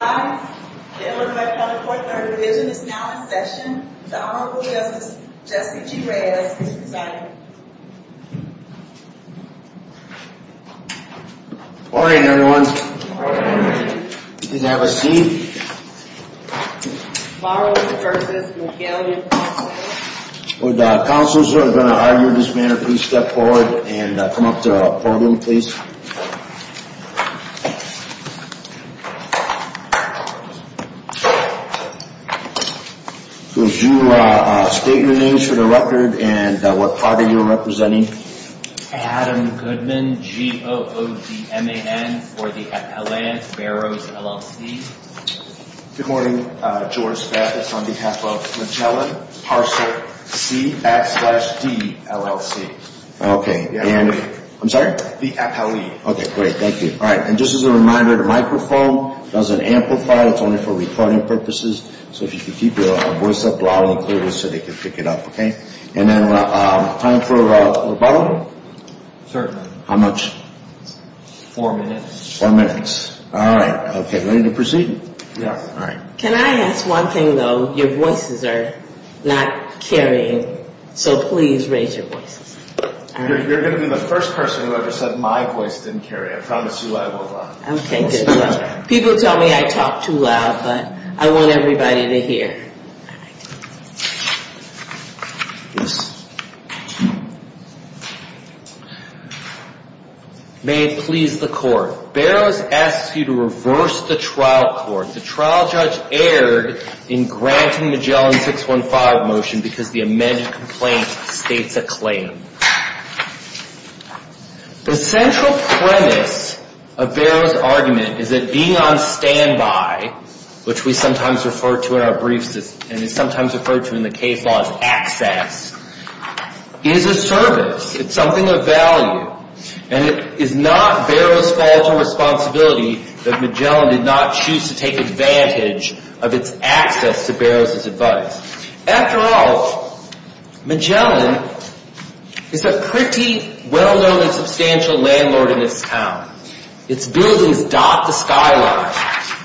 The Illinois County Court and our division is now in session. The Honorable Justice Jesse G. Reyes is presiding. Good morning everyone. Good morning. You can have a seat. Morrows v. Magellan Parcel. Would the counselors who are going to argue in this manner please step forward and come up to the podium please. Could you state your names for the record and what party you are representing? Adam Goodman, G-O-O-D-M-A-N for the Appellant Barrows, LLC. Good morning, George Bathurst on behalf of Magellan Parcel, C-A-X-D-L-L-C. Okay. I'm sorry? The Appellee. Okay, great. Thank you. All right. And just as a reminder, the microphone doesn't amplify. It's only for recording purposes. So if you could keep your voice up loud and clear so they can pick it up, okay? And then time for rebuttal? Certainly. How much? Four minutes. Four minutes. All right. Okay. Ready to proceed? Yes. All right. Can I ask one thing though? Your voices are not carrying, so please raise your voices. You're going to be the first person who ever said my voice didn't carry. I promise you I will not. Okay, good. People tell me I talk too loud, but I want everybody to hear. May it please the Court. Barrows asks you to reverse the trial court. The trial judge erred in granting Magellan 615 motion because the amended complaint states a claim. The central premise of Barrows' argument is that being on standby, which we sometimes refer to in our briefs and is sometimes referred to in the case law as access, is a service. It's something of value. And it is not Barrows' fault or responsibility that Magellan did not choose to take advantage of its access to Barrows' advice. After all, Magellan is a pretty well-known and substantial landlord in this town. Its buildings dot the skyline.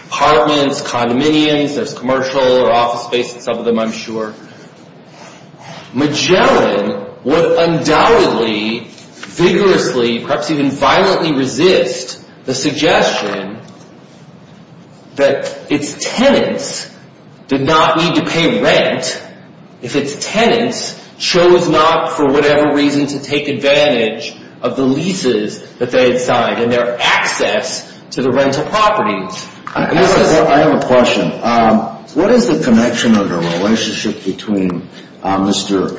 Apartments, condominiums, there's commercial or office space in some of them, I'm sure. Magellan would undoubtedly, vigorously, perhaps even violently resist the suggestion that its tenants did not need to pay rent if its tenants chose not, for whatever reason, to take advantage of the leases that they had signed and their access to the rental properties. I have a question. What is the connection or the relationship between Mr.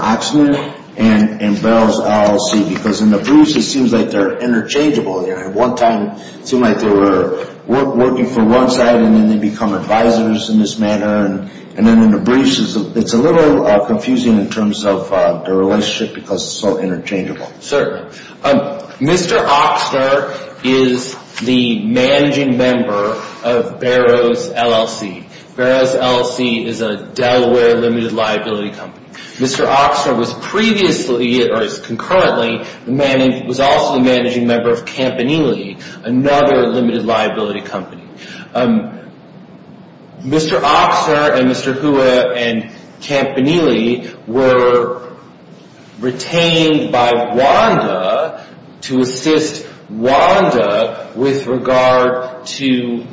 Ochsner and Barrows LLC? Because in the briefs, it seems like they're interchangeable. At one time, it seemed like they were working for one side and then they become advisors in this manner. And then in the briefs, it's a little confusing in terms of the relationship because it's so interchangeable. Mr. Ochsner is the managing member of Barrows LLC. Barrows LLC is a Delaware limited liability company. Mr. Ochsner was previously, or concurrently, was also the managing member of Campanile, another limited liability company. Mr. Ochsner and Mr. Hua and Campanile were retained by WANDA to assist WANDA with regard to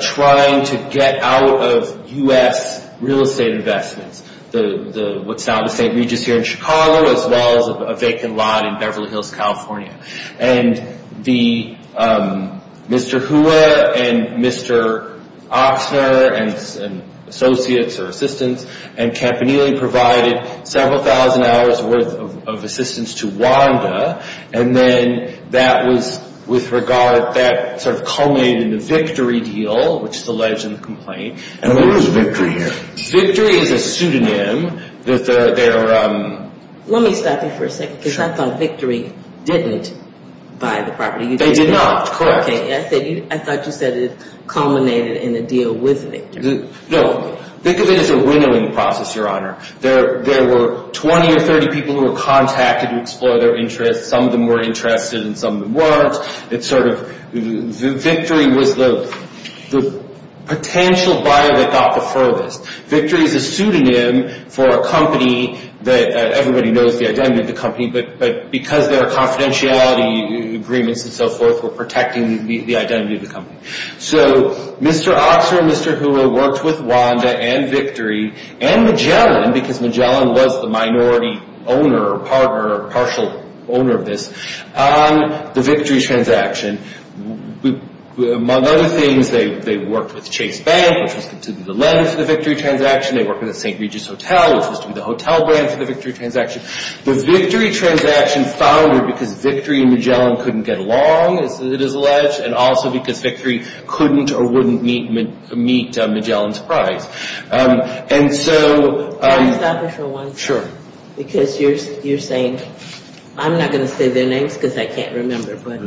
trying to get out of U.S. real estate investments. What's now the St. Regis here in Chicago, as well as a vacant lot in Beverly Hills, California. And Mr. Hua and Mr. Ochsner and associates or assistants and Campanile provided several thousand hours worth of assistance to WANDA. And then that was with regard that sort of culminated in a victory deal, which is alleged in the complaint. And what is victory here? Victory is a pseudonym. Let me stop you for a second because I thought victory didn't buy the property. They did not. I thought you said it culminated in a deal with victory. No. Think of it as a winnowing process, Your Honor. There were 20 or 30 people who were contacted to explore their interests. Some of them were interested and some of them weren't. It's sort of victory was the potential buyer that got the furthest. Victory is a pseudonym for a company that everybody knows the identity of the company. But because there are confidentiality agreements and so forth, we're protecting the identity of the company. So Mr. Ochsner and Mr. Hua worked with WANDA and victory and Magellan, because Magellan was the minority owner or partner or partial owner of this, on the victory transaction. Among other things, they worked with Chase Bank, which was to be the lender for the victory transaction. They worked with the St. Regis Hotel, which was to be the hotel brand for the victory transaction. The victory transaction founded because victory and Magellan couldn't get along, as it is alleged, and also because victory couldn't or wouldn't meet Magellan's price. Can I stop you for one second? Sure. Because you're saying, I'm not going to say their names because I can't remember, but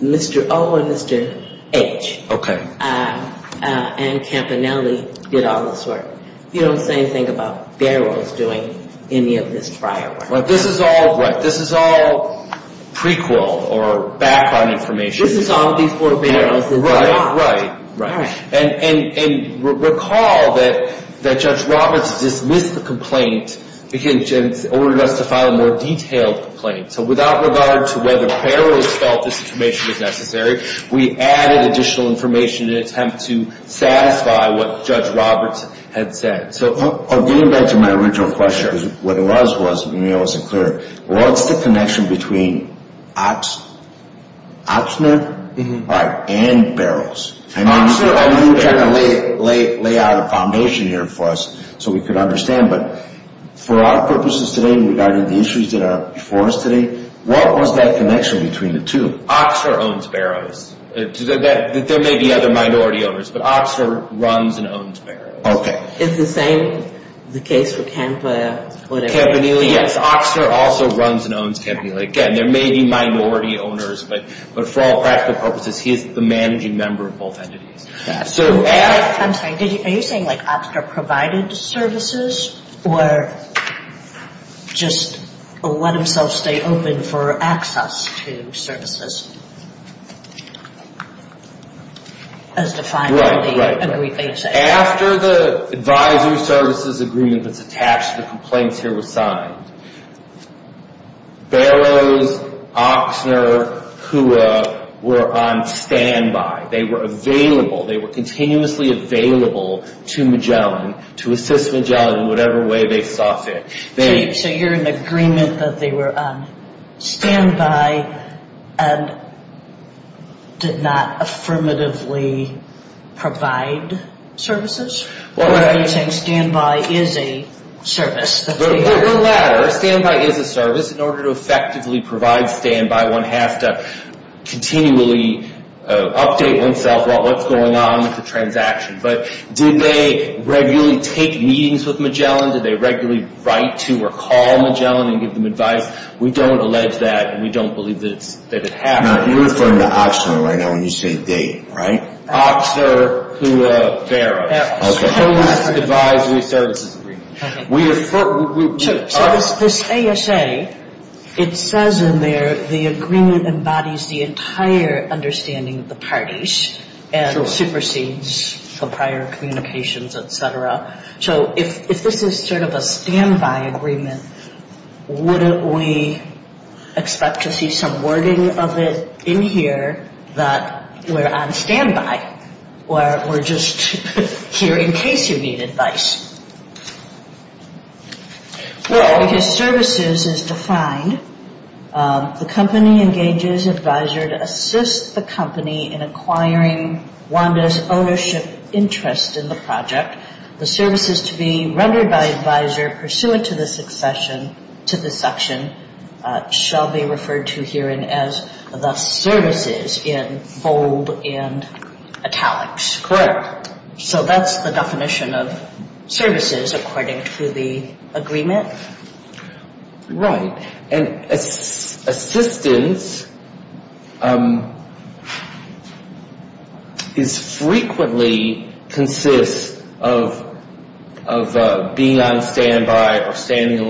Mr. O and Mr. H. Okay. And Campanelli did all this work. You don't say anything about barrels doing any of this prior work. This is all prequel or back on information. This is all before barrels. Right. Right. And recall that Judge Roberts dismissed the complaint and ordered us to file a more detailed complaint. So without regard to whether barrels felt this information was necessary, we added additional information in an attempt to satisfy what Judge Roberts had said. So getting back to my original question, what it was was, maybe I wasn't clear, what's the connection between Oxner and barrels? And you're trying to lay out a foundation here for us so we could understand, but for our purposes today, regarding the issues that are before us today, what was that connection between the two? Oxner owns barrels. There may be other minority owners, but Oxner runs and owns barrels. Okay. Is the same the case for Campanelli? Campanelli, yes. Oxner also runs and owns Campanelli. Again, there may be minority owners, but for all practical purposes, he is the managing member of both entities. I'm sorry, are you saying like Oxner provided services or just let himself stay open for access to services as defined in the agreement? After the advisory services agreement that's attached to the complaints here was signed, barrels, Oxner, Kua were on standby. They were available. They were continuously available to Magellan to assist Magellan in whatever way they saw fit. So you're in agreement that they were on standby and did not affirmatively provide services? Or are you saying standby is a service? It doesn't matter. Standby is a service. In order to effectively provide standby, one has to continually update oneself about what's going on with the transaction. But did they regularly take meetings with Magellan? Did they regularly write to or call Magellan and give them advice? We don't allege that, and we don't believe that it happened. Now, you're referring to Oxner right now when you say date, right? Oxner, Kua, barrels. Okay. That's the advisory services agreement. So this ASA, it says in there the agreement embodies the entire understanding of the parties and supersedes the prior communications, et cetera. So if this is sort of a standby agreement, wouldn't we expect to see some wording of it in here that we're on standby? Or we're just here in case you need advice? Well, because services is defined, the company engages advisor to assist the company in acquiring WANDA's ownership interest in the project. The services to be rendered by advisor pursuant to this section shall be referred to herein as the services in bold and italics. Correct. So that's the definition of services according to the agreement. Right. And assistance is frequently consists of being on standby or standing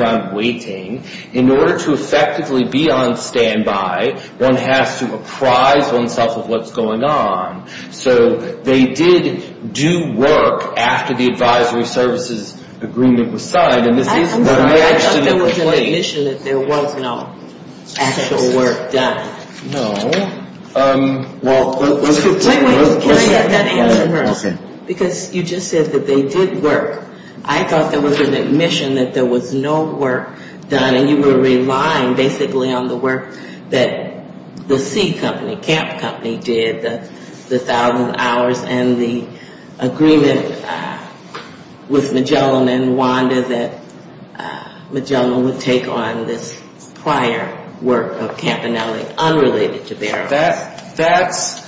around waiting. In order to effectively be on standby, one has to apprise oneself of what's going on. So they did do work after the advisory services agreement was signed. I thought there was an admission that there was no actual work done. No. Wait, wait, can I get that answer first? Because you just said that they did work. I thought there was an admission that there was no work done. And you were relying basically on the work that the C Company, Camp Company did, the thousand hours and the agreement with Magellan and WANDA that Magellan would take on this prior work of Campanelli unrelated to Barrow. That's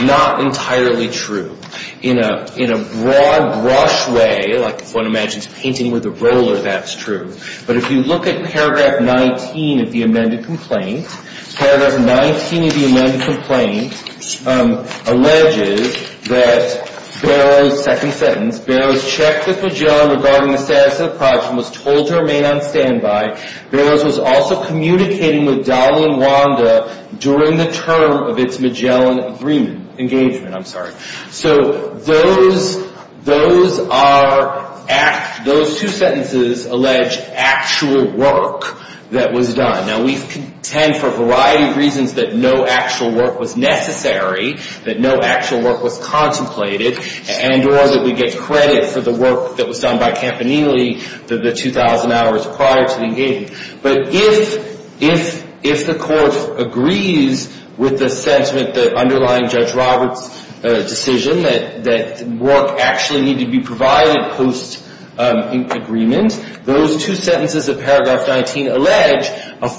not entirely true. In a broad brush way, like one imagines painting with a roller, that's true. But if you look at paragraph 19 of the amended complaint, paragraph 19 of the amended complaint alleges that Barrow's second sentence, Barrow's check with Magellan regarding the status of the project was told to remain on standby. Barrow's was also communicating with Dowell and WANDA during the term of its Magellan agreement, engagement, I'm sorry. So those two sentences allege actual work that was done. Now, we contend for a variety of reasons that no actual work was necessary, that no actual work was contemplated, and or that we get credit for the work that was done by Campanelli, the 2,000 hours prior to the engagement. But if the Court agrees with the sentiment that underlying Judge Roberts' decision that work actually needed to be provided post-agreement, those two sentences of paragraph 19 allege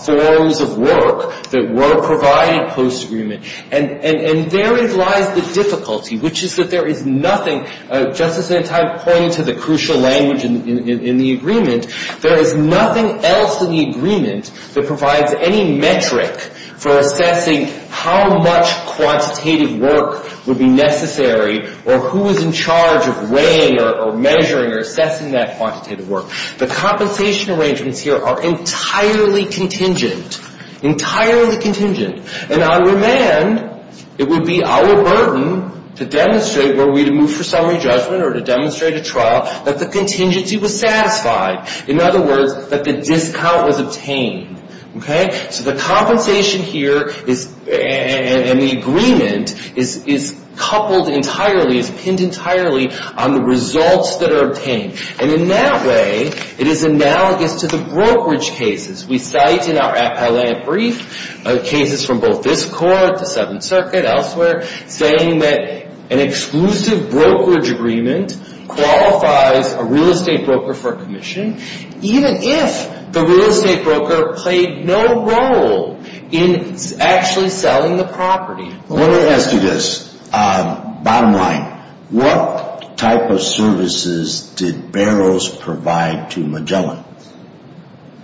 forms of work that were provided post-agreement. And therein lies the difficulty, which is that there is nothing, Justice Antonio pointed to the crucial language in the agreement, there is nothing else in the agreement that provides any metric for assessing how much quantitative work would be necessary or who is in charge of weighing or measuring or assessing that quantitative work. The compensation arrangements here are entirely contingent, entirely contingent. And on demand, it would be our burden to demonstrate, were we to move for summary judgment or to demonstrate a trial, that the contingency was satisfied. In other words, that the discount was obtained. Okay? So the compensation here and the agreement is coupled entirely, is pinned entirely on the results that are obtained. And in that way, it is analogous to the brokerage cases. We cite in our appellate brief cases from both this Court, the Seventh Circuit, elsewhere, saying that an exclusive brokerage agreement qualifies a real estate broker for commission, even if the real estate broker played no role in actually selling the property. Let me ask you this. Bottom line, what type of services did Barrows provide to Magellan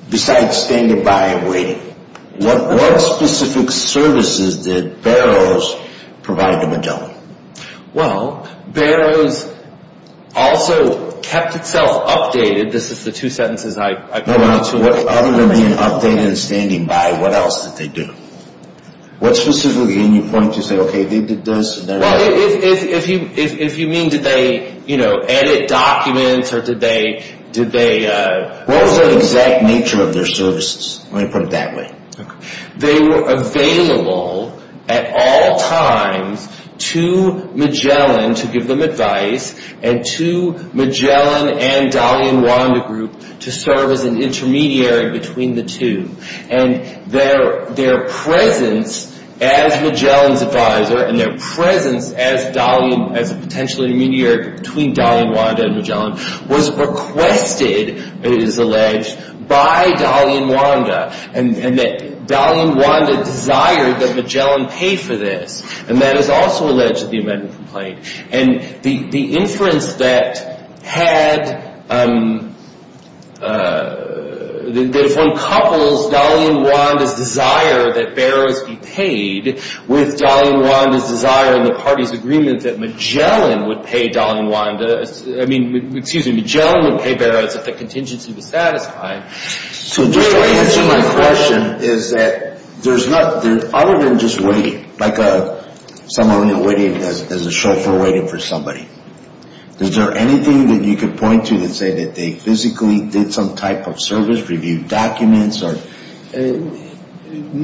besides standing by and waiting? What specific services did Barrows provide to Magellan? Well, Barrows also kept itself updated. This is the two sentences I pointed to. Other than being updated and standing by, what else did they do? What specifically? And you point to say, okay, they did this and that. Well, if you mean, did they, you know, edit documents or did they... What was the exact nature of their services? Let me put it that way. They were available at all times to Magellan to give them advice and to Magellan and Dali and Wanda Group to serve as an intermediary between the two. And their presence as Magellan's advisor and their presence as a potential intermediary between Dali and Wanda and Magellan was requested, it is alleged, by Dali and Wanda. And Dali and Wanda desired that Magellan pay for this. And that is also alleged in the amendment complaint. And the inference that had, that if one couples Dali and Wanda's desire that Barrows be paid with Dali and Wanda's desire in the party's agreement that Magellan would pay Dali and Wanda, I mean, excuse me, Magellan would pay Barrows if the contingency was satisfied. So just to answer my question is that there's not, other than just waiting, like someone waiting as a chauffeur waiting for somebody, is there anything that you could point to that say that they physically did some type of service, reviewed documents or... In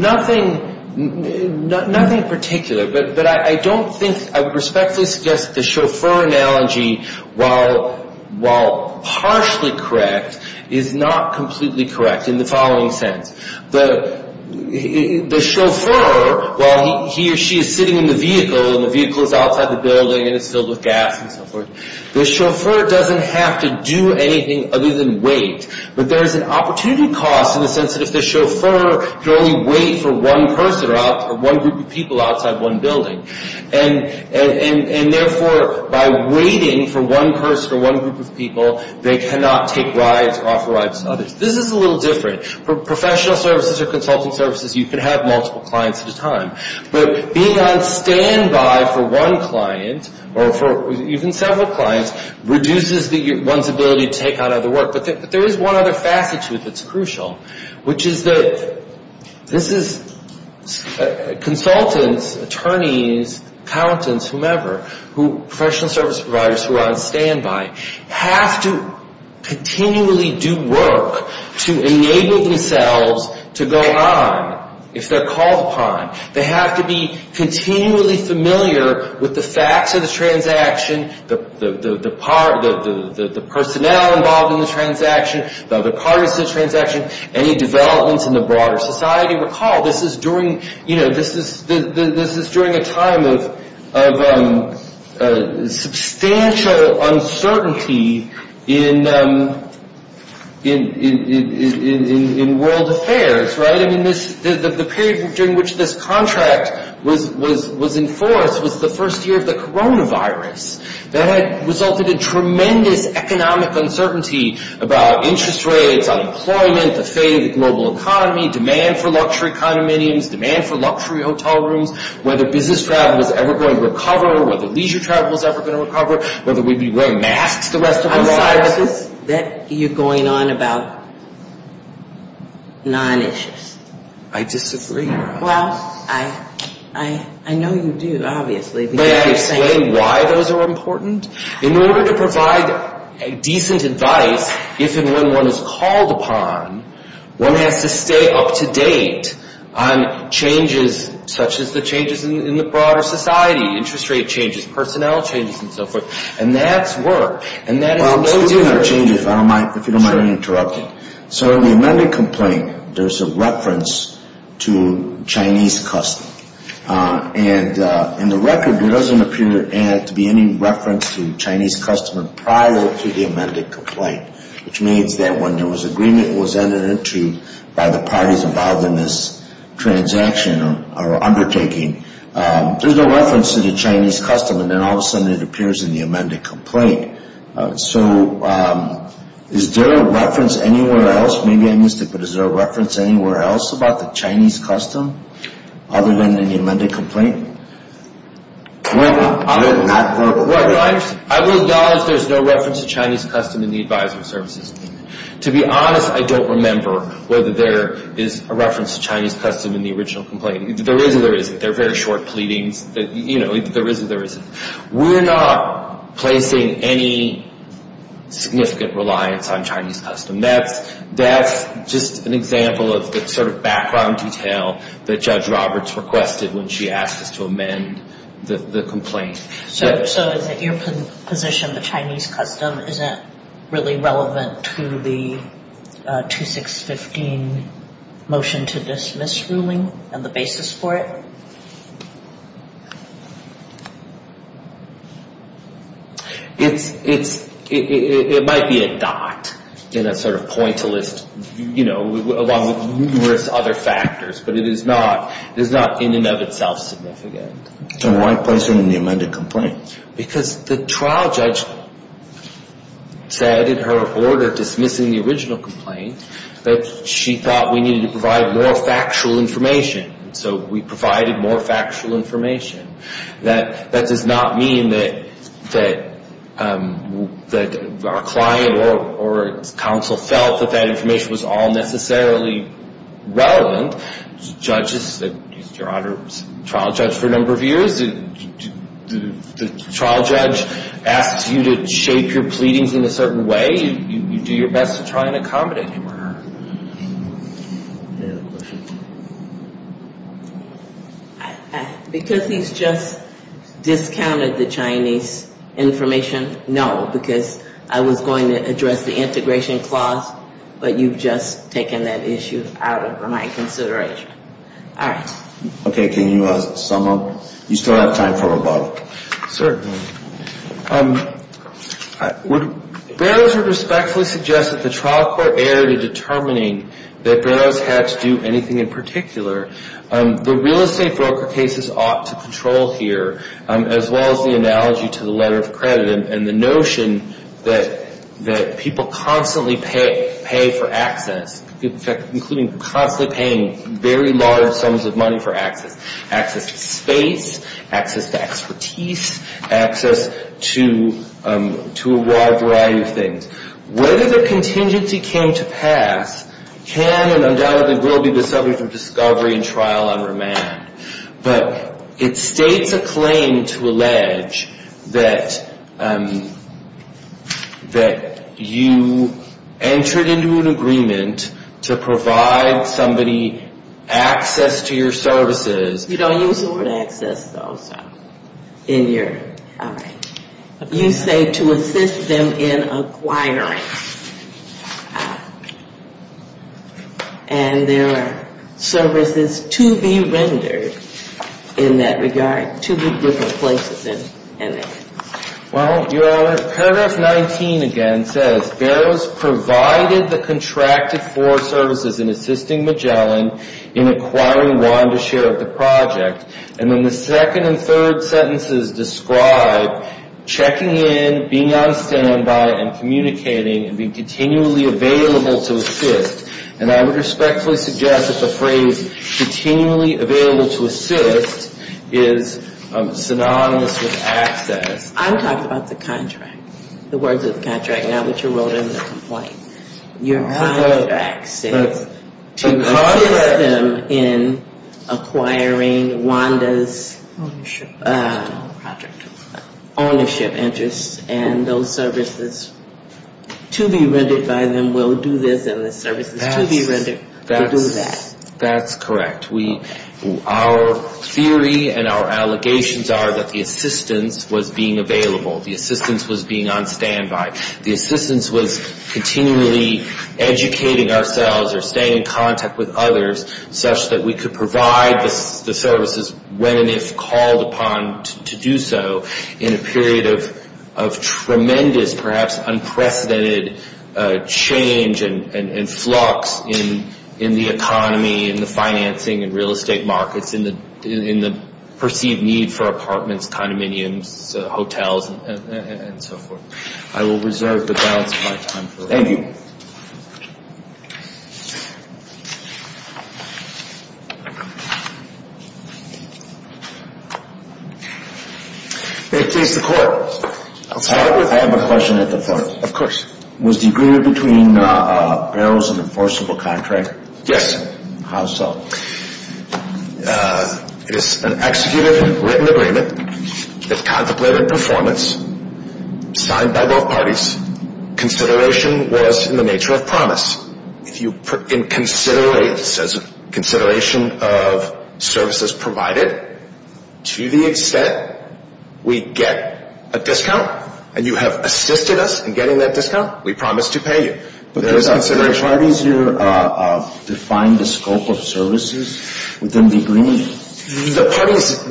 the following sense. The chauffeur, while he or she is sitting in the vehicle and the vehicle is outside the building and it's filled with gas and so forth, the chauffeur doesn't have to do anything other than wait. But there is an opportunity cost in the sense that if the chauffeur can only wait for one person or one group of people outside one building. And therefore, by waiting for one person or one group of people, they cannot take rides or offer rides to others. This is a little different. For professional services or consulting services, you can have multiple clients at a time. But being on standby for one client or for even several clients reduces one's ability to take on other work. But there is one other facet to it that's crucial, which is that consultants, attorneys, accountants, whomever, professional service providers who are on standby, have to continually do work to enable themselves to go on if they're called upon. They have to be continually familiar with the facts of the transaction, the personnel involved in the transaction, the parties to the transaction, any developments in the broader society. This is during a time of substantial uncertainty in world affairs. The period during which this contract was enforced was the first year of the coronavirus. That had resulted in tremendous economic uncertainty about interest rates, unemployment, the fate of the global economy, demand for luxury condominiums, demand for luxury hotel rooms, whether business travel was ever going to recover, whether leisure travel was ever going to recover, whether we'd be wearing masks the rest of our lives. That you're going on about non-issues. I disagree. Well, I know you do, obviously. In order to provide decent advice, if and when one is called upon, one has to stay up-to-date on changes such as the changes in the broader society, interest rate changes, personnel changes and so forth. And that's work. If you don't mind interrupting. So in the amended complaint, there's a reference to Chinese custom. And in the record, there doesn't appear to be any reference to Chinese custom prior to the amended complaint, which means that when there was agreement was entered into by the parties involved in this transaction or undertaking, there's no reference to the Chinese custom. And then all of a sudden it appears in the amended complaint. So is there a reference anywhere else? Maybe I missed it, but is there a reference anywhere else about the Chinese custom other than in the amended complaint? Other than not verbal. I will acknowledge there's no reference to Chinese custom in the advisory services. To be honest, I don't remember whether there is a reference to Chinese custom in the original complaint. There is or there isn't. They're very short pleadings. You know, there is or there isn't. We're not placing any significant reliance on Chinese custom. That's just an example of the sort of background detail that Judge Roberts requested when she asked us to amend the complaint. So is it your position the Chinese custom isn't really relevant to the 2615 motion to dismiss ruling and the basis for it? It might be a dot in a sort of point to list, you know, along with numerous other factors, but it is not in and of itself significant. Then why place it in the amended complaint? Because the trial judge said in her order dismissing the original complaint that she thought we needed to provide more factual information. So we provided more factual information. That does not mean that our client or counsel felt that that information was all necessarily relevant. Judges, your Honor, trial judge for a number of years, the trial judge asks you to shape your pleadings in a certain way. You do your best to try and accommodate him or her. Because he's just discounted the Chinese information, no. Because I was going to address the integration clause, but you've just taken that issue out of my consideration. All right. Okay. Can you sum up? You still have time for rebuttal. Certainly. Barrows would respectfully suggest that the trial court erred in determining that Barrows had to do anything in particular. The real estate broker cases ought to control here, as well as the analogy to the letter of credit and the notion that people constantly pay for access, including constantly paying very large sums of money for access, access to space, access to expertise, access to a wide variety of things. Whether the contingency came to pass can and undoubtedly will be the subject of discovery and trial on remand. But it states a claim to allege that you entered into an agreement to provide somebody access to your services. You don't use the word access, though, so. In your, all right. You say to assist them in acquiring. And there are services to be rendered in that regard, to be different places in it. Well, paragraph 19 again says Barrows provided the contracted for services in assisting Magellan in acquiring Wanda's share of the project. And then the second and third sentences describe checking in, being on standby, and communicating and being continually available to assist. And I would respectfully suggest that the phrase continually available to assist is synonymous with access. I'm talking about the contract, the words of the contract, not what you wrote in the complaint. Your contract says to assist them in acquiring Wanda's ownership interests and those services to be rendered by them will do this and the services to be rendered will do that. That's correct. Our theory and our allegations are that the assistance was being available. The assistance was being on standby. The assistance was continually educating ourselves or staying in contact with others such that we could provide the services when and if called upon to do so in a period of tremendous, perhaps unprecedented change and flux in the economy and the financing and real estate markets in the perceived need for apartments, condominiums, hotels, and so forth. I will reserve the balance of my time for that. Thank you. May it please the Court. I'll start with you. I have a question at the fore. Of course. Was the agreement between Barrows an enforceable contract? Yes. How so? It is an executed and written agreement. It's contemplated performance, signed by both parties. Consideration was in the nature of promise. If you put in consideration of services provided to the extent we get a discount and you have assisted us in getting that discount, we promise to pay you. There is consideration. If both parties here define the scope of services, would them be green? The parties,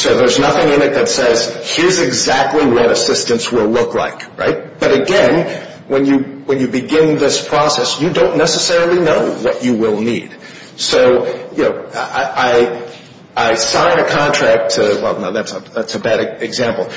so there's nothing in it that says here's exactly what assistance will look like, right? But again, when you begin this process, you don't necessarily know what you will need. So, you know, I signed a contract to, well, no, that's a bad example.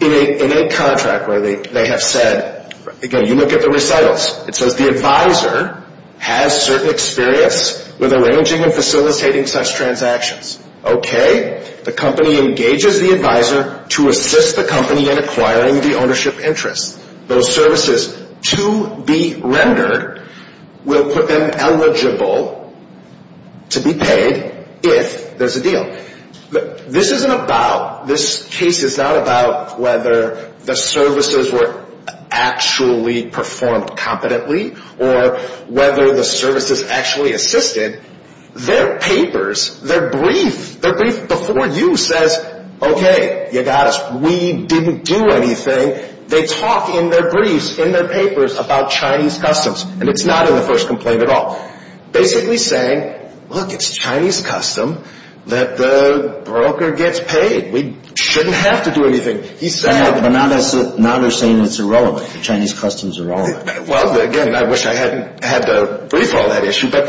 In a contract where they have said, again, you look at the recitals. It says the advisor has certain experience with arranging and facilitating such transactions. Okay. The company engages the advisor to assist the company in acquiring the ownership interest. Those services to be rendered will put them eligible to be paid if there's a deal. Again, this isn't about, this case is not about whether the services were actually performed competently or whether the services actually assisted. Their papers, their brief, their brief before you says, okay, you got us. We didn't do anything. They talk in their briefs, in their papers about Chinese customs. And it's not in the first complaint at all. Basically saying, look, it's Chinese custom that the broker gets paid. We shouldn't have to do anything. But now they're saying it's irrelevant. The Chinese customs are irrelevant. Well, again, I wish I hadn't had to brief all that issue. But,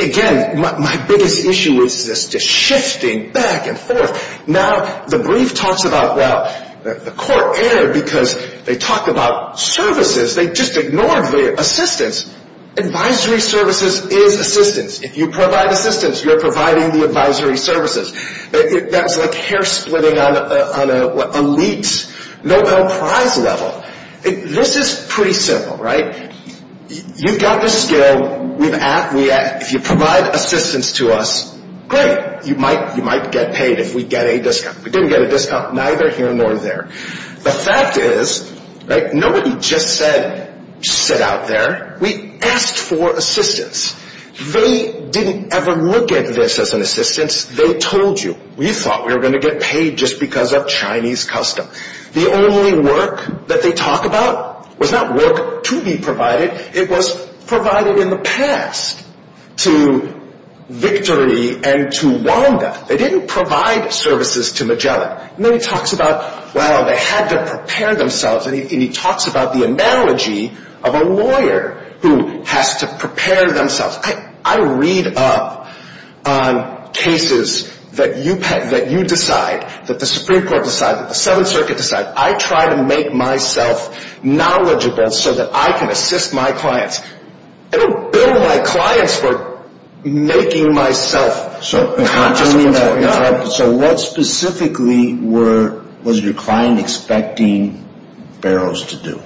again, my biggest issue is this just shifting back and forth. Now, the brief talks about, well, the court erred because they talked about services. They just ignored the assistance. Advisory services is assistance. If you provide assistance, you're providing the advisory services. That's like hair splitting on an elite Nobel Prize level. This is pretty simple, right? You've got the skill. We've asked. If you provide assistance to us, great. You might get paid if we get a discount. We didn't get a discount neither here nor there. The fact is nobody just said sit out there. We asked for assistance. They didn't ever look at this as an assistance. They told you. We thought we were going to get paid just because of Chinese custom. The only work that they talk about was not work to be provided. It was provided in the past to Victory and to Wanda. They didn't provide services to Magellan. And then he talks about, well, they had to prepare themselves, and he talks about the analogy of a lawyer who has to prepare themselves. I read up on cases that you decide, that the Supreme Court decides, that the Seventh Circuit decides. I try to make myself knowledgeable so that I can assist my clients. I don't bill my clients for making myself conscious of what's going on. So what specifically was your client expecting Barrows to do?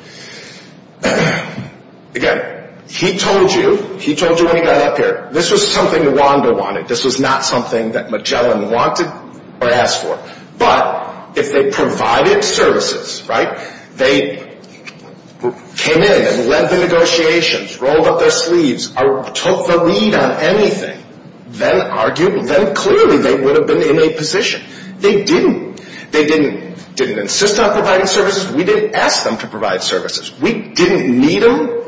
Again, he told you when he got up here. This was something Wanda wanted. This was not something that Magellan wanted or asked for. But if they provided services, right, they came in and led the negotiations, rolled up their sleeves, took the lead on anything, then argued, then clearly they would have been in a position. They didn't. They didn't insist on providing services. We didn't ask them to provide services. We didn't need them,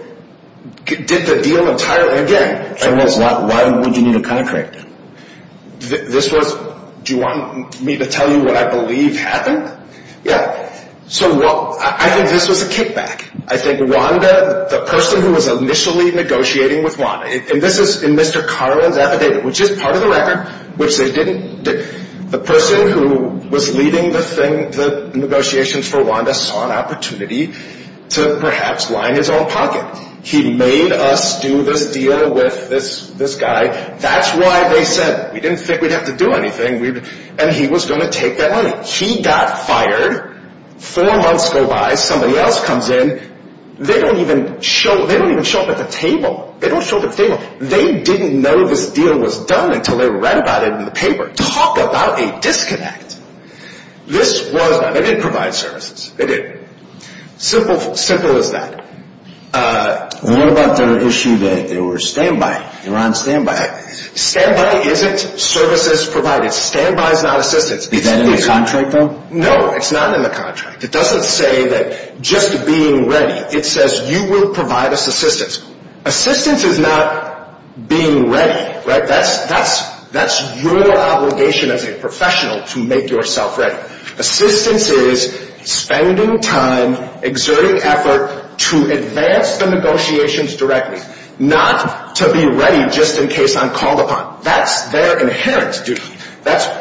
did the deal entirely again. And why would you need a contract? This was, do you want me to tell you what I believe happened? Yeah. So I think this was a kickback. I think Wanda, the person who was initially negotiating with Wanda, and this is in Mr. Carlin's affidavit, which is part of the record, which they didn't, the person who was leading the negotiations for Wanda saw an opportunity to perhaps line his own pocket. He made us do this deal with this guy. That's why they said we didn't think we'd have to do anything, and he was going to take that money. He got fired. Four months go by. Somebody else comes in. They don't even show up at the table. They don't show up at the table. They didn't know this deal was done until they read about it in the paper. Talk about a disconnect. They did provide services. They did. Simple as that. What about the issue that they were on standby? Standby isn't services provided. Standby is not assistance. Is that in the contract, though? No, it's not in the contract. It doesn't say that just being ready. It says you will provide us assistance. Assistance is not being ready, right? That's your obligation as a professional to make yourself ready. Assistance is spending time, exerting effort to advance the negotiations directly, not to be ready just in case I'm called upon. That's their inherent duty.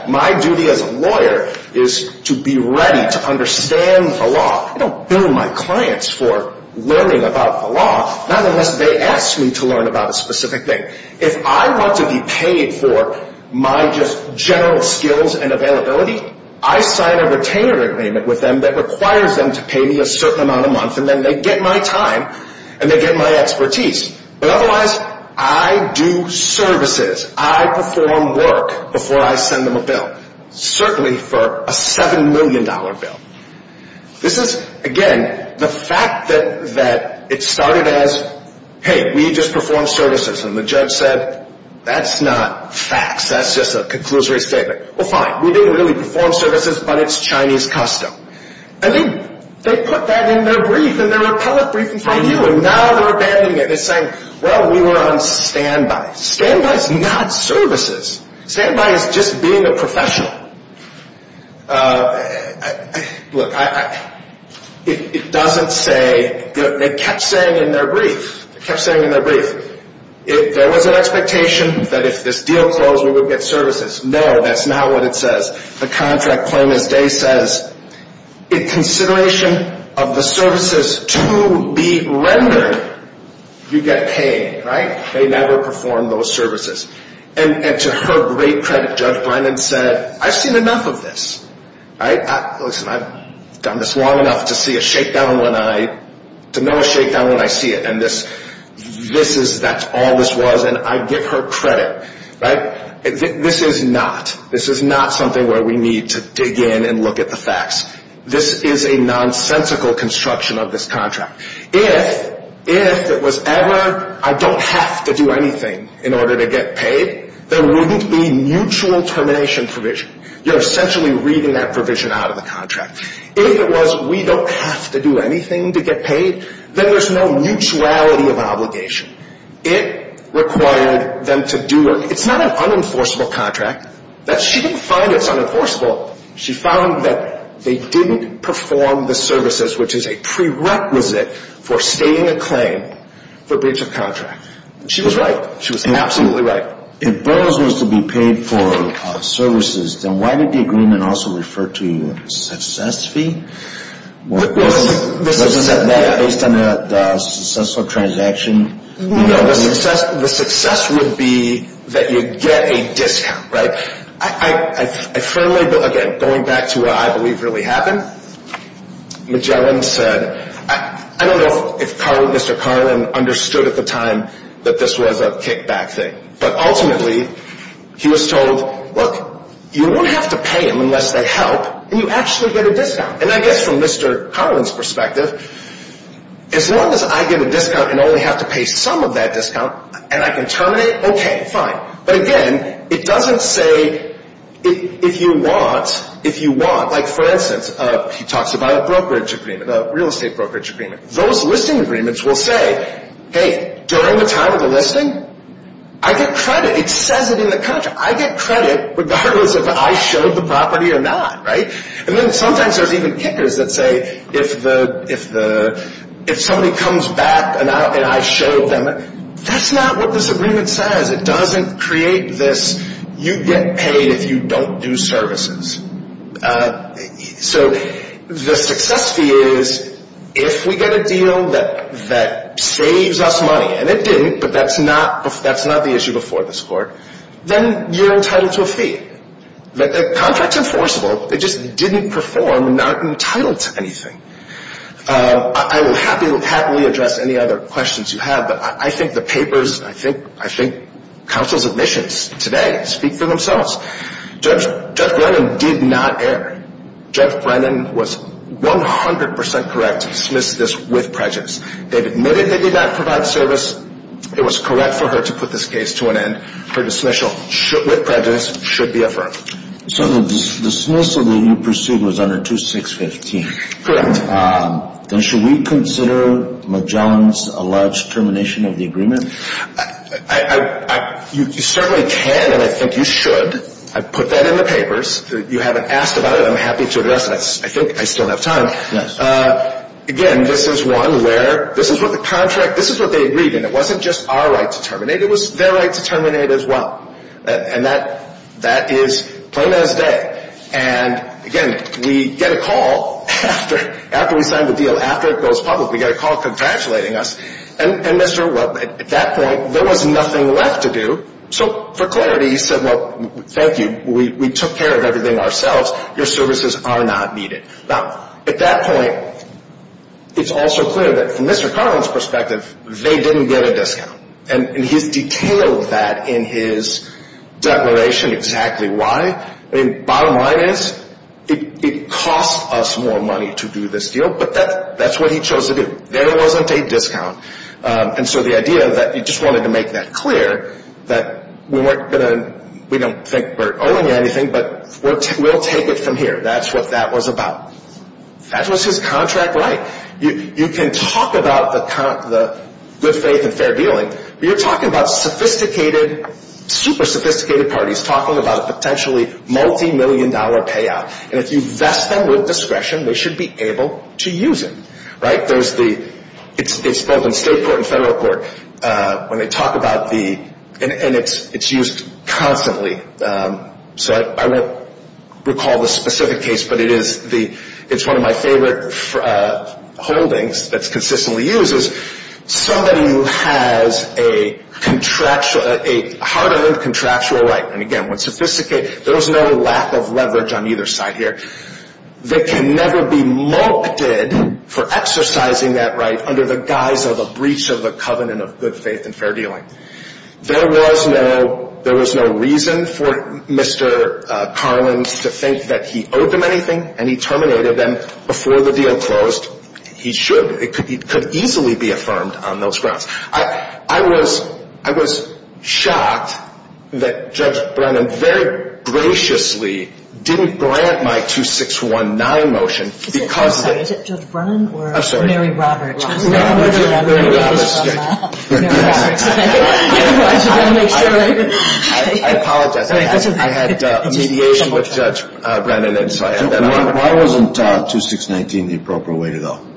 My duty as a lawyer is to be ready to understand the law. I don't bill my clients for learning about the law, not unless they ask me to learn about a specific thing. If I want to be paid for my just general skills and availability, I sign a retainer agreement with them that requires them to pay me a certain amount a month, and then they get my time and they get my expertise. But otherwise, I do services. I perform work before I send them a bill, certainly for a $7 million bill. This is, again, the fact that it started as, hey, we just performed services, and the judge said, that's not facts. That's just a conclusory statement. Well, fine, we didn't really perform services, but it's Chinese custom. And then they put that in their brief, in their appellate briefing from you, and now they're abandoning it. They're saying, well, we were on standby. Standby is not services. Standby is just being a professional. Look, it doesn't say, they kept saying in their brief, kept saying in their brief, there was an expectation that if this deal closed, we would get services. No, that's not what it says. The contract plain as day says, in consideration of the services to be rendered, you get paid, right? They never performed those services. And to her great credit, Judge Bynum said, I've seen enough of this, right? Listen, I've done this long enough to see a shakedown when I, to know a shakedown when I see it, and this is, that's all this was, and I give her credit, right? This is not, this is not something where we need to dig in and look at the facts. This is a nonsensical construction of this contract. If, if it was ever, I don't have to do anything in order to get paid, there wouldn't be mutual termination provision. You're essentially reading that provision out of the contract. If it was, we don't have to do anything to get paid, then there's no mutuality of obligation. It required them to do, it's not an unenforceable contract. She didn't find it's unenforceable. She found that they didn't perform the services, which is a prerequisite for stating a claim for breach of contract. She was right. She was absolutely right. If bonus was to be paid for services, then why did the agreement also refer to success fee? Well, this is, yeah. Wasn't that based on the successful transaction? No, the success, the success would be that you get a discount, right? I firmly, again, going back to what I believe really happened, Magellan said, I don't know if Mr. Carlin understood at the time that this was a kickback thing, but ultimately he was told, look, you won't have to pay them unless they help, and you actually get a discount. And I guess from Mr. Carlin's perspective, as long as I get a discount and only have to pay some of that discount, and I can terminate, okay, fine. But again, it doesn't say if you want, if you want. Like, for instance, he talks about a brokerage agreement, a real estate brokerage agreement. Those listing agreements will say, hey, during the time of the listing, I get credit. It says it in the contract. I get credit regardless if I showed the property or not, right? And then sometimes there's even kickers that say if the, if the, if somebody comes back and I showed them, that's not what this agreement says. It doesn't create this you get paid if you don't do services. So the success fee is if we get a deal that saves us money, and it didn't, but that's not, that's not the issue before this Court, then you're entitled to a fee. The contract's enforceable. It just didn't perform and not entitled to anything. I will happily address any other questions you have, but I think the papers, I think, I think counsel's admissions today speak for themselves. Judge Brennan did not err. Judge Brennan was 100% correct to dismiss this with prejudice. They admitted they did not provide service. It was correct for her to put this case to an end. Her dismissal with prejudice should be affirmed. So the dismissal that you pursued was under 2615. Correct. Then should we consider McJohn's alleged termination of the agreement? I, I, you certainly can, and I think you should. I put that in the papers. You haven't asked about it. I'm happy to address it. I think I still have time. Yes. Again, this is one where, this is what the contract, this is what they agreed in. It wasn't just our right to terminate. It was their right to terminate as well. And that, that is plain as day. And, again, we get a call after, after we sign the deal, after it goes public, we get a call congratulating us. And, and Mr., well, at that point, there was nothing left to do. So, for clarity, he said, well, thank you. We, we took care of everything ourselves. Your services are not needed. Now, at that point, it's also clear that from Mr. Carlin's perspective, they didn't get a discount. And, and he's detailed that in his declaration exactly why. I mean, bottom line is, it, it cost us more money to do this deal, but that, that's what he chose to do. There wasn't a discount. And so the idea that he just wanted to make that clear, that we weren't going to, we don't think we're owing you anything, but we'll, we'll take it from here. That's what that was about. That was his contract right. You, you can talk about the, the good faith and fair dealing, but you're talking about sophisticated, super sophisticated parties talking about a potentially multi-million dollar payout. And if you vest them with discretion, they should be able to use it, right. There's the, it's, it's both in state court and federal court when they talk about the, and, and it's, it's used constantly. So I, I won't recall the specific case, but it is the, it's one of my favorite holdings that's consistently used is somebody who has a contractual, a hard-earned contractual right. And again, when sophisticated, there was no lack of leverage on either side here. They can never be multipled for exercising that right under the guise of a breach of the covenant of good faith and fair dealing. There was no, there was no reason for Mr. Carlins to think that he owed them anything and he terminated them before the deal closed. He should, it could, it could easily be affirmed on those grounds. I, I was, I was shocked that Judge Brennan very graciously didn't grant my 2619 motion because. Is it, I'm sorry, is it Judge Brennan or Mary Roberts? I'm sorry. Mary Roberts. Mary Roberts. Mary Roberts. I apologize. I had mediation with Judge Brennan. Why wasn't 2619 the appropriate way to go?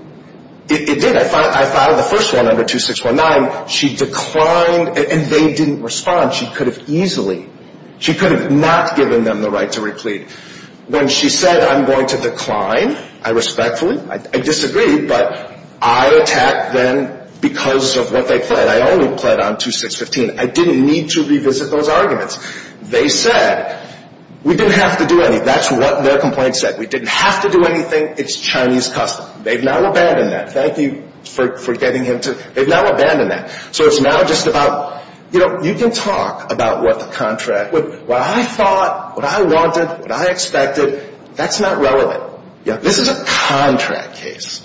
It did. I filed the first one under 2619. She declined and they didn't respond. She could have easily, she could have not given them the right to reclaim. When she said I'm going to decline, I respectfully, I disagreed, but I attacked them because of what they pled. I only pled on 2615. I didn't need to revisit those arguments. They said we didn't have to do anything. That's what their complaint said. We didn't have to do anything. It's Chinese custom. They've now abandoned that. Thank you for getting him to, they've now abandoned that. So it's now just about, you know, you can talk about what the contract, what I thought, what I wanted, what I expected. That's not relevant. This is a contract case.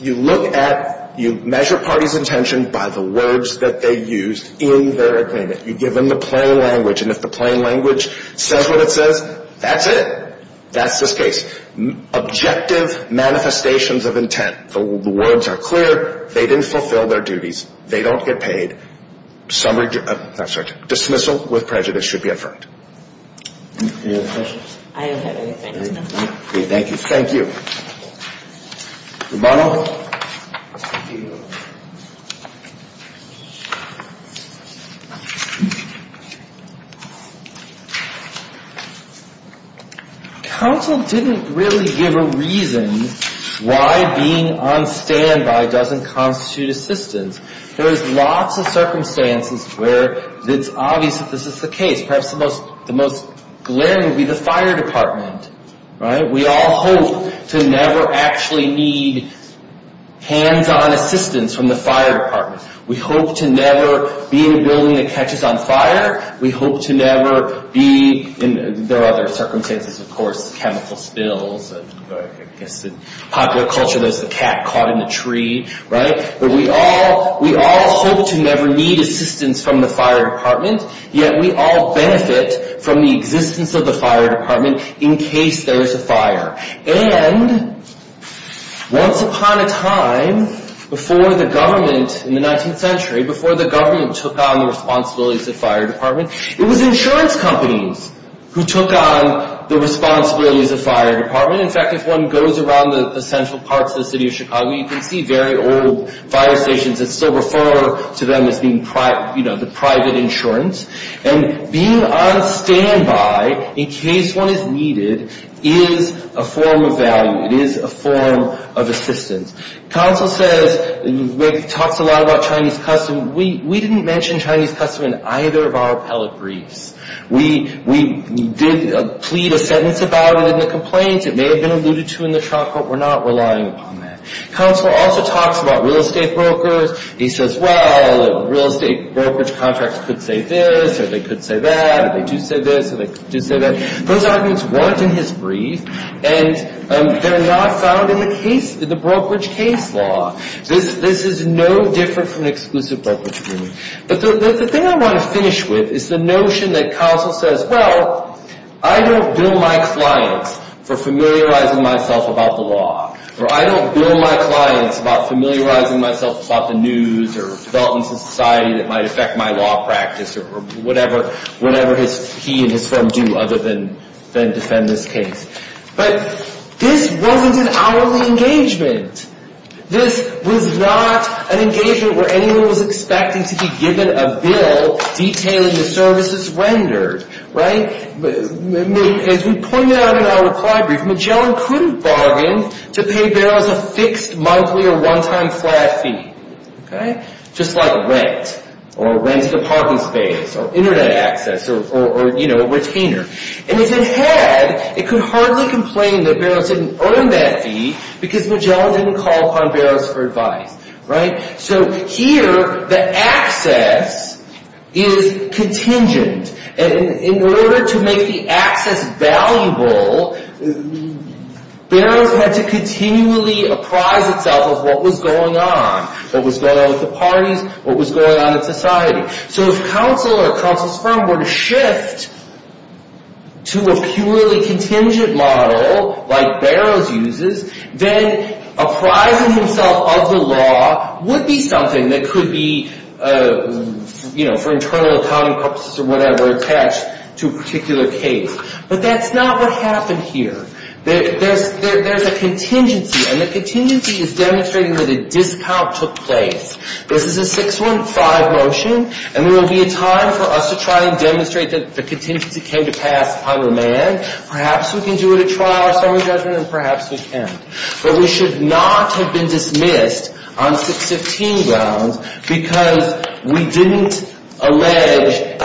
You look at, you measure parties' intention by the words that they used in their agreement. You give them the plain language, and if the plain language says what it says, that's it. That's this case. Objective manifestations of intent. The words are clear. They didn't fulfill their duties. They don't get paid. Some, I'm sorry, dismissal with prejudice should be affirmed. Any other questions? I don't have anything. Thank you. Thank you. Rebuttal. Counsel didn't really give a reason why being on standby doesn't constitute assistance. There's lots of circumstances where it's obvious that this is the case. Perhaps the most glaring would be the fire department, right? We all hope to never actually need hands-on assistance from the fire department. We hope to never be in a building that catches on fire. We hope to never be in, there are other circumstances, of course, chemical spills. I guess in popular culture, there's the cat caught in the tree, right? But we all hope to never need assistance from the fire department, yet we all benefit from the existence of the fire department in case there is a fire. And once upon a time, before the government in the 19th century, before the government took on the responsibilities of fire department, it was insurance companies who took on the responsibilities of fire department. In fact, if one goes around the central parts of the city of Chicago, you can see very old fire stations that still refer to them as being the private insurance. And being on standby in case one is needed is a form of value. It is a form of assistance. Counsel says, talks a lot about Chinese custom. We didn't mention Chinese custom in either of our appellate briefs. We did plead a sentence about it in the complaint. It may have been alluded to in the trial court. We're not relying upon that. Counsel also talks about real estate brokers. He says, well, real estate brokerage contracts could say this, or they could say that, or they do say this, or they do say that. Those arguments weren't in his brief, and they're not found in the case, in the brokerage case law. This is no different from an exclusive brokerage agreement. But the thing I want to finish with is the notion that counsel says, well, I don't bill my clients for familiarizing myself about the law, or I don't bill my clients about familiarizing myself about the news or developments in society that might affect my law practice, or whatever he and his firm do other than defend this case. But this wasn't an hourly engagement. This was not an engagement where anyone was expecting to be given a bill detailing the services rendered. As we pointed out in our reply brief, Magellan couldn't bargain to pay Barrows a fixed monthly or one-time flat fee, just like rent, or rent to the parking space, or Internet access, or retainer. And if it had, it could hardly complain that Barrows didn't earn that fee because Magellan didn't call upon Barrows for advice. So here, the access is contingent. In order to make the access valuable, Barrows had to continually apprise itself of what was going on, what was going on with the parties, what was going on in society. So if counsel or counsel's firm were to shift to a purely contingent model like Barrows uses, then apprising himself of the law would be something that could be, you know, for internal accounting purposes or whatever, attached to a particular case. But that's not what happened here. There's a contingency, and the contingency is demonstrating where the discount took place. This is a 6-1-5 motion, and there will be a time for us to try and demonstrate that the contingency came to pass upon the man. Perhaps we can do it at trial or summary judgment, and perhaps we can't. But we should not have been dismissed on 6-15 grounds because we didn't allege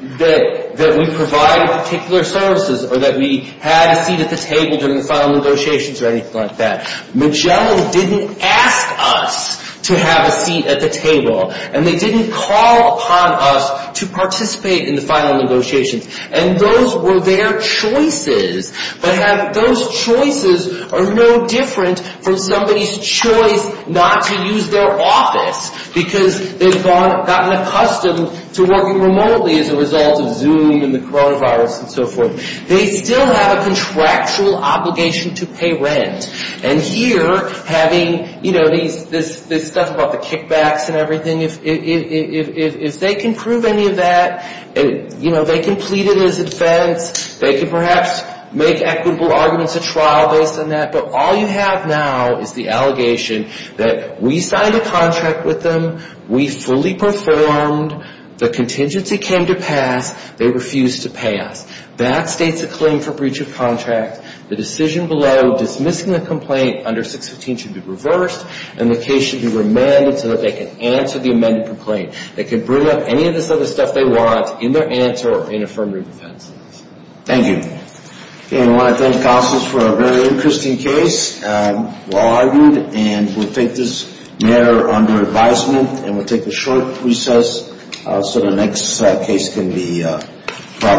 that we provided particular services or that we had a seat at the table during the final negotiations or anything like that. Magellan didn't ask us to have a seat at the table, and they didn't call upon us to participate in the final negotiations. And those were their choices. But those choices are no different from somebody's choice not to use their office because they've gotten accustomed to working remotely as a result of Zoom and the coronavirus and so forth. They still have a contractual obligation to pay rent. And here, having, you know, this stuff about the kickbacks and everything, if they can prove any of that, you know, they can plead it as a defense. They can perhaps make equitable arguments at trial based on that. But all you have now is the allegation that we signed a contract with them. We fully performed. The contingency came to pass. They refused to pay us. That states a claim for breach of contract. The decision below dismissing the complaint under 6-15 should be reversed, and the case should be remanded so that they can answer the amended complaint. They can bring up any of this other stuff they want in their answer or in affirmative defense. Thank you. And I want to thank counsels for a very interesting case. Well argued, and we'll take this matter under advisement, and we'll take a short recess so the next case can be brought up.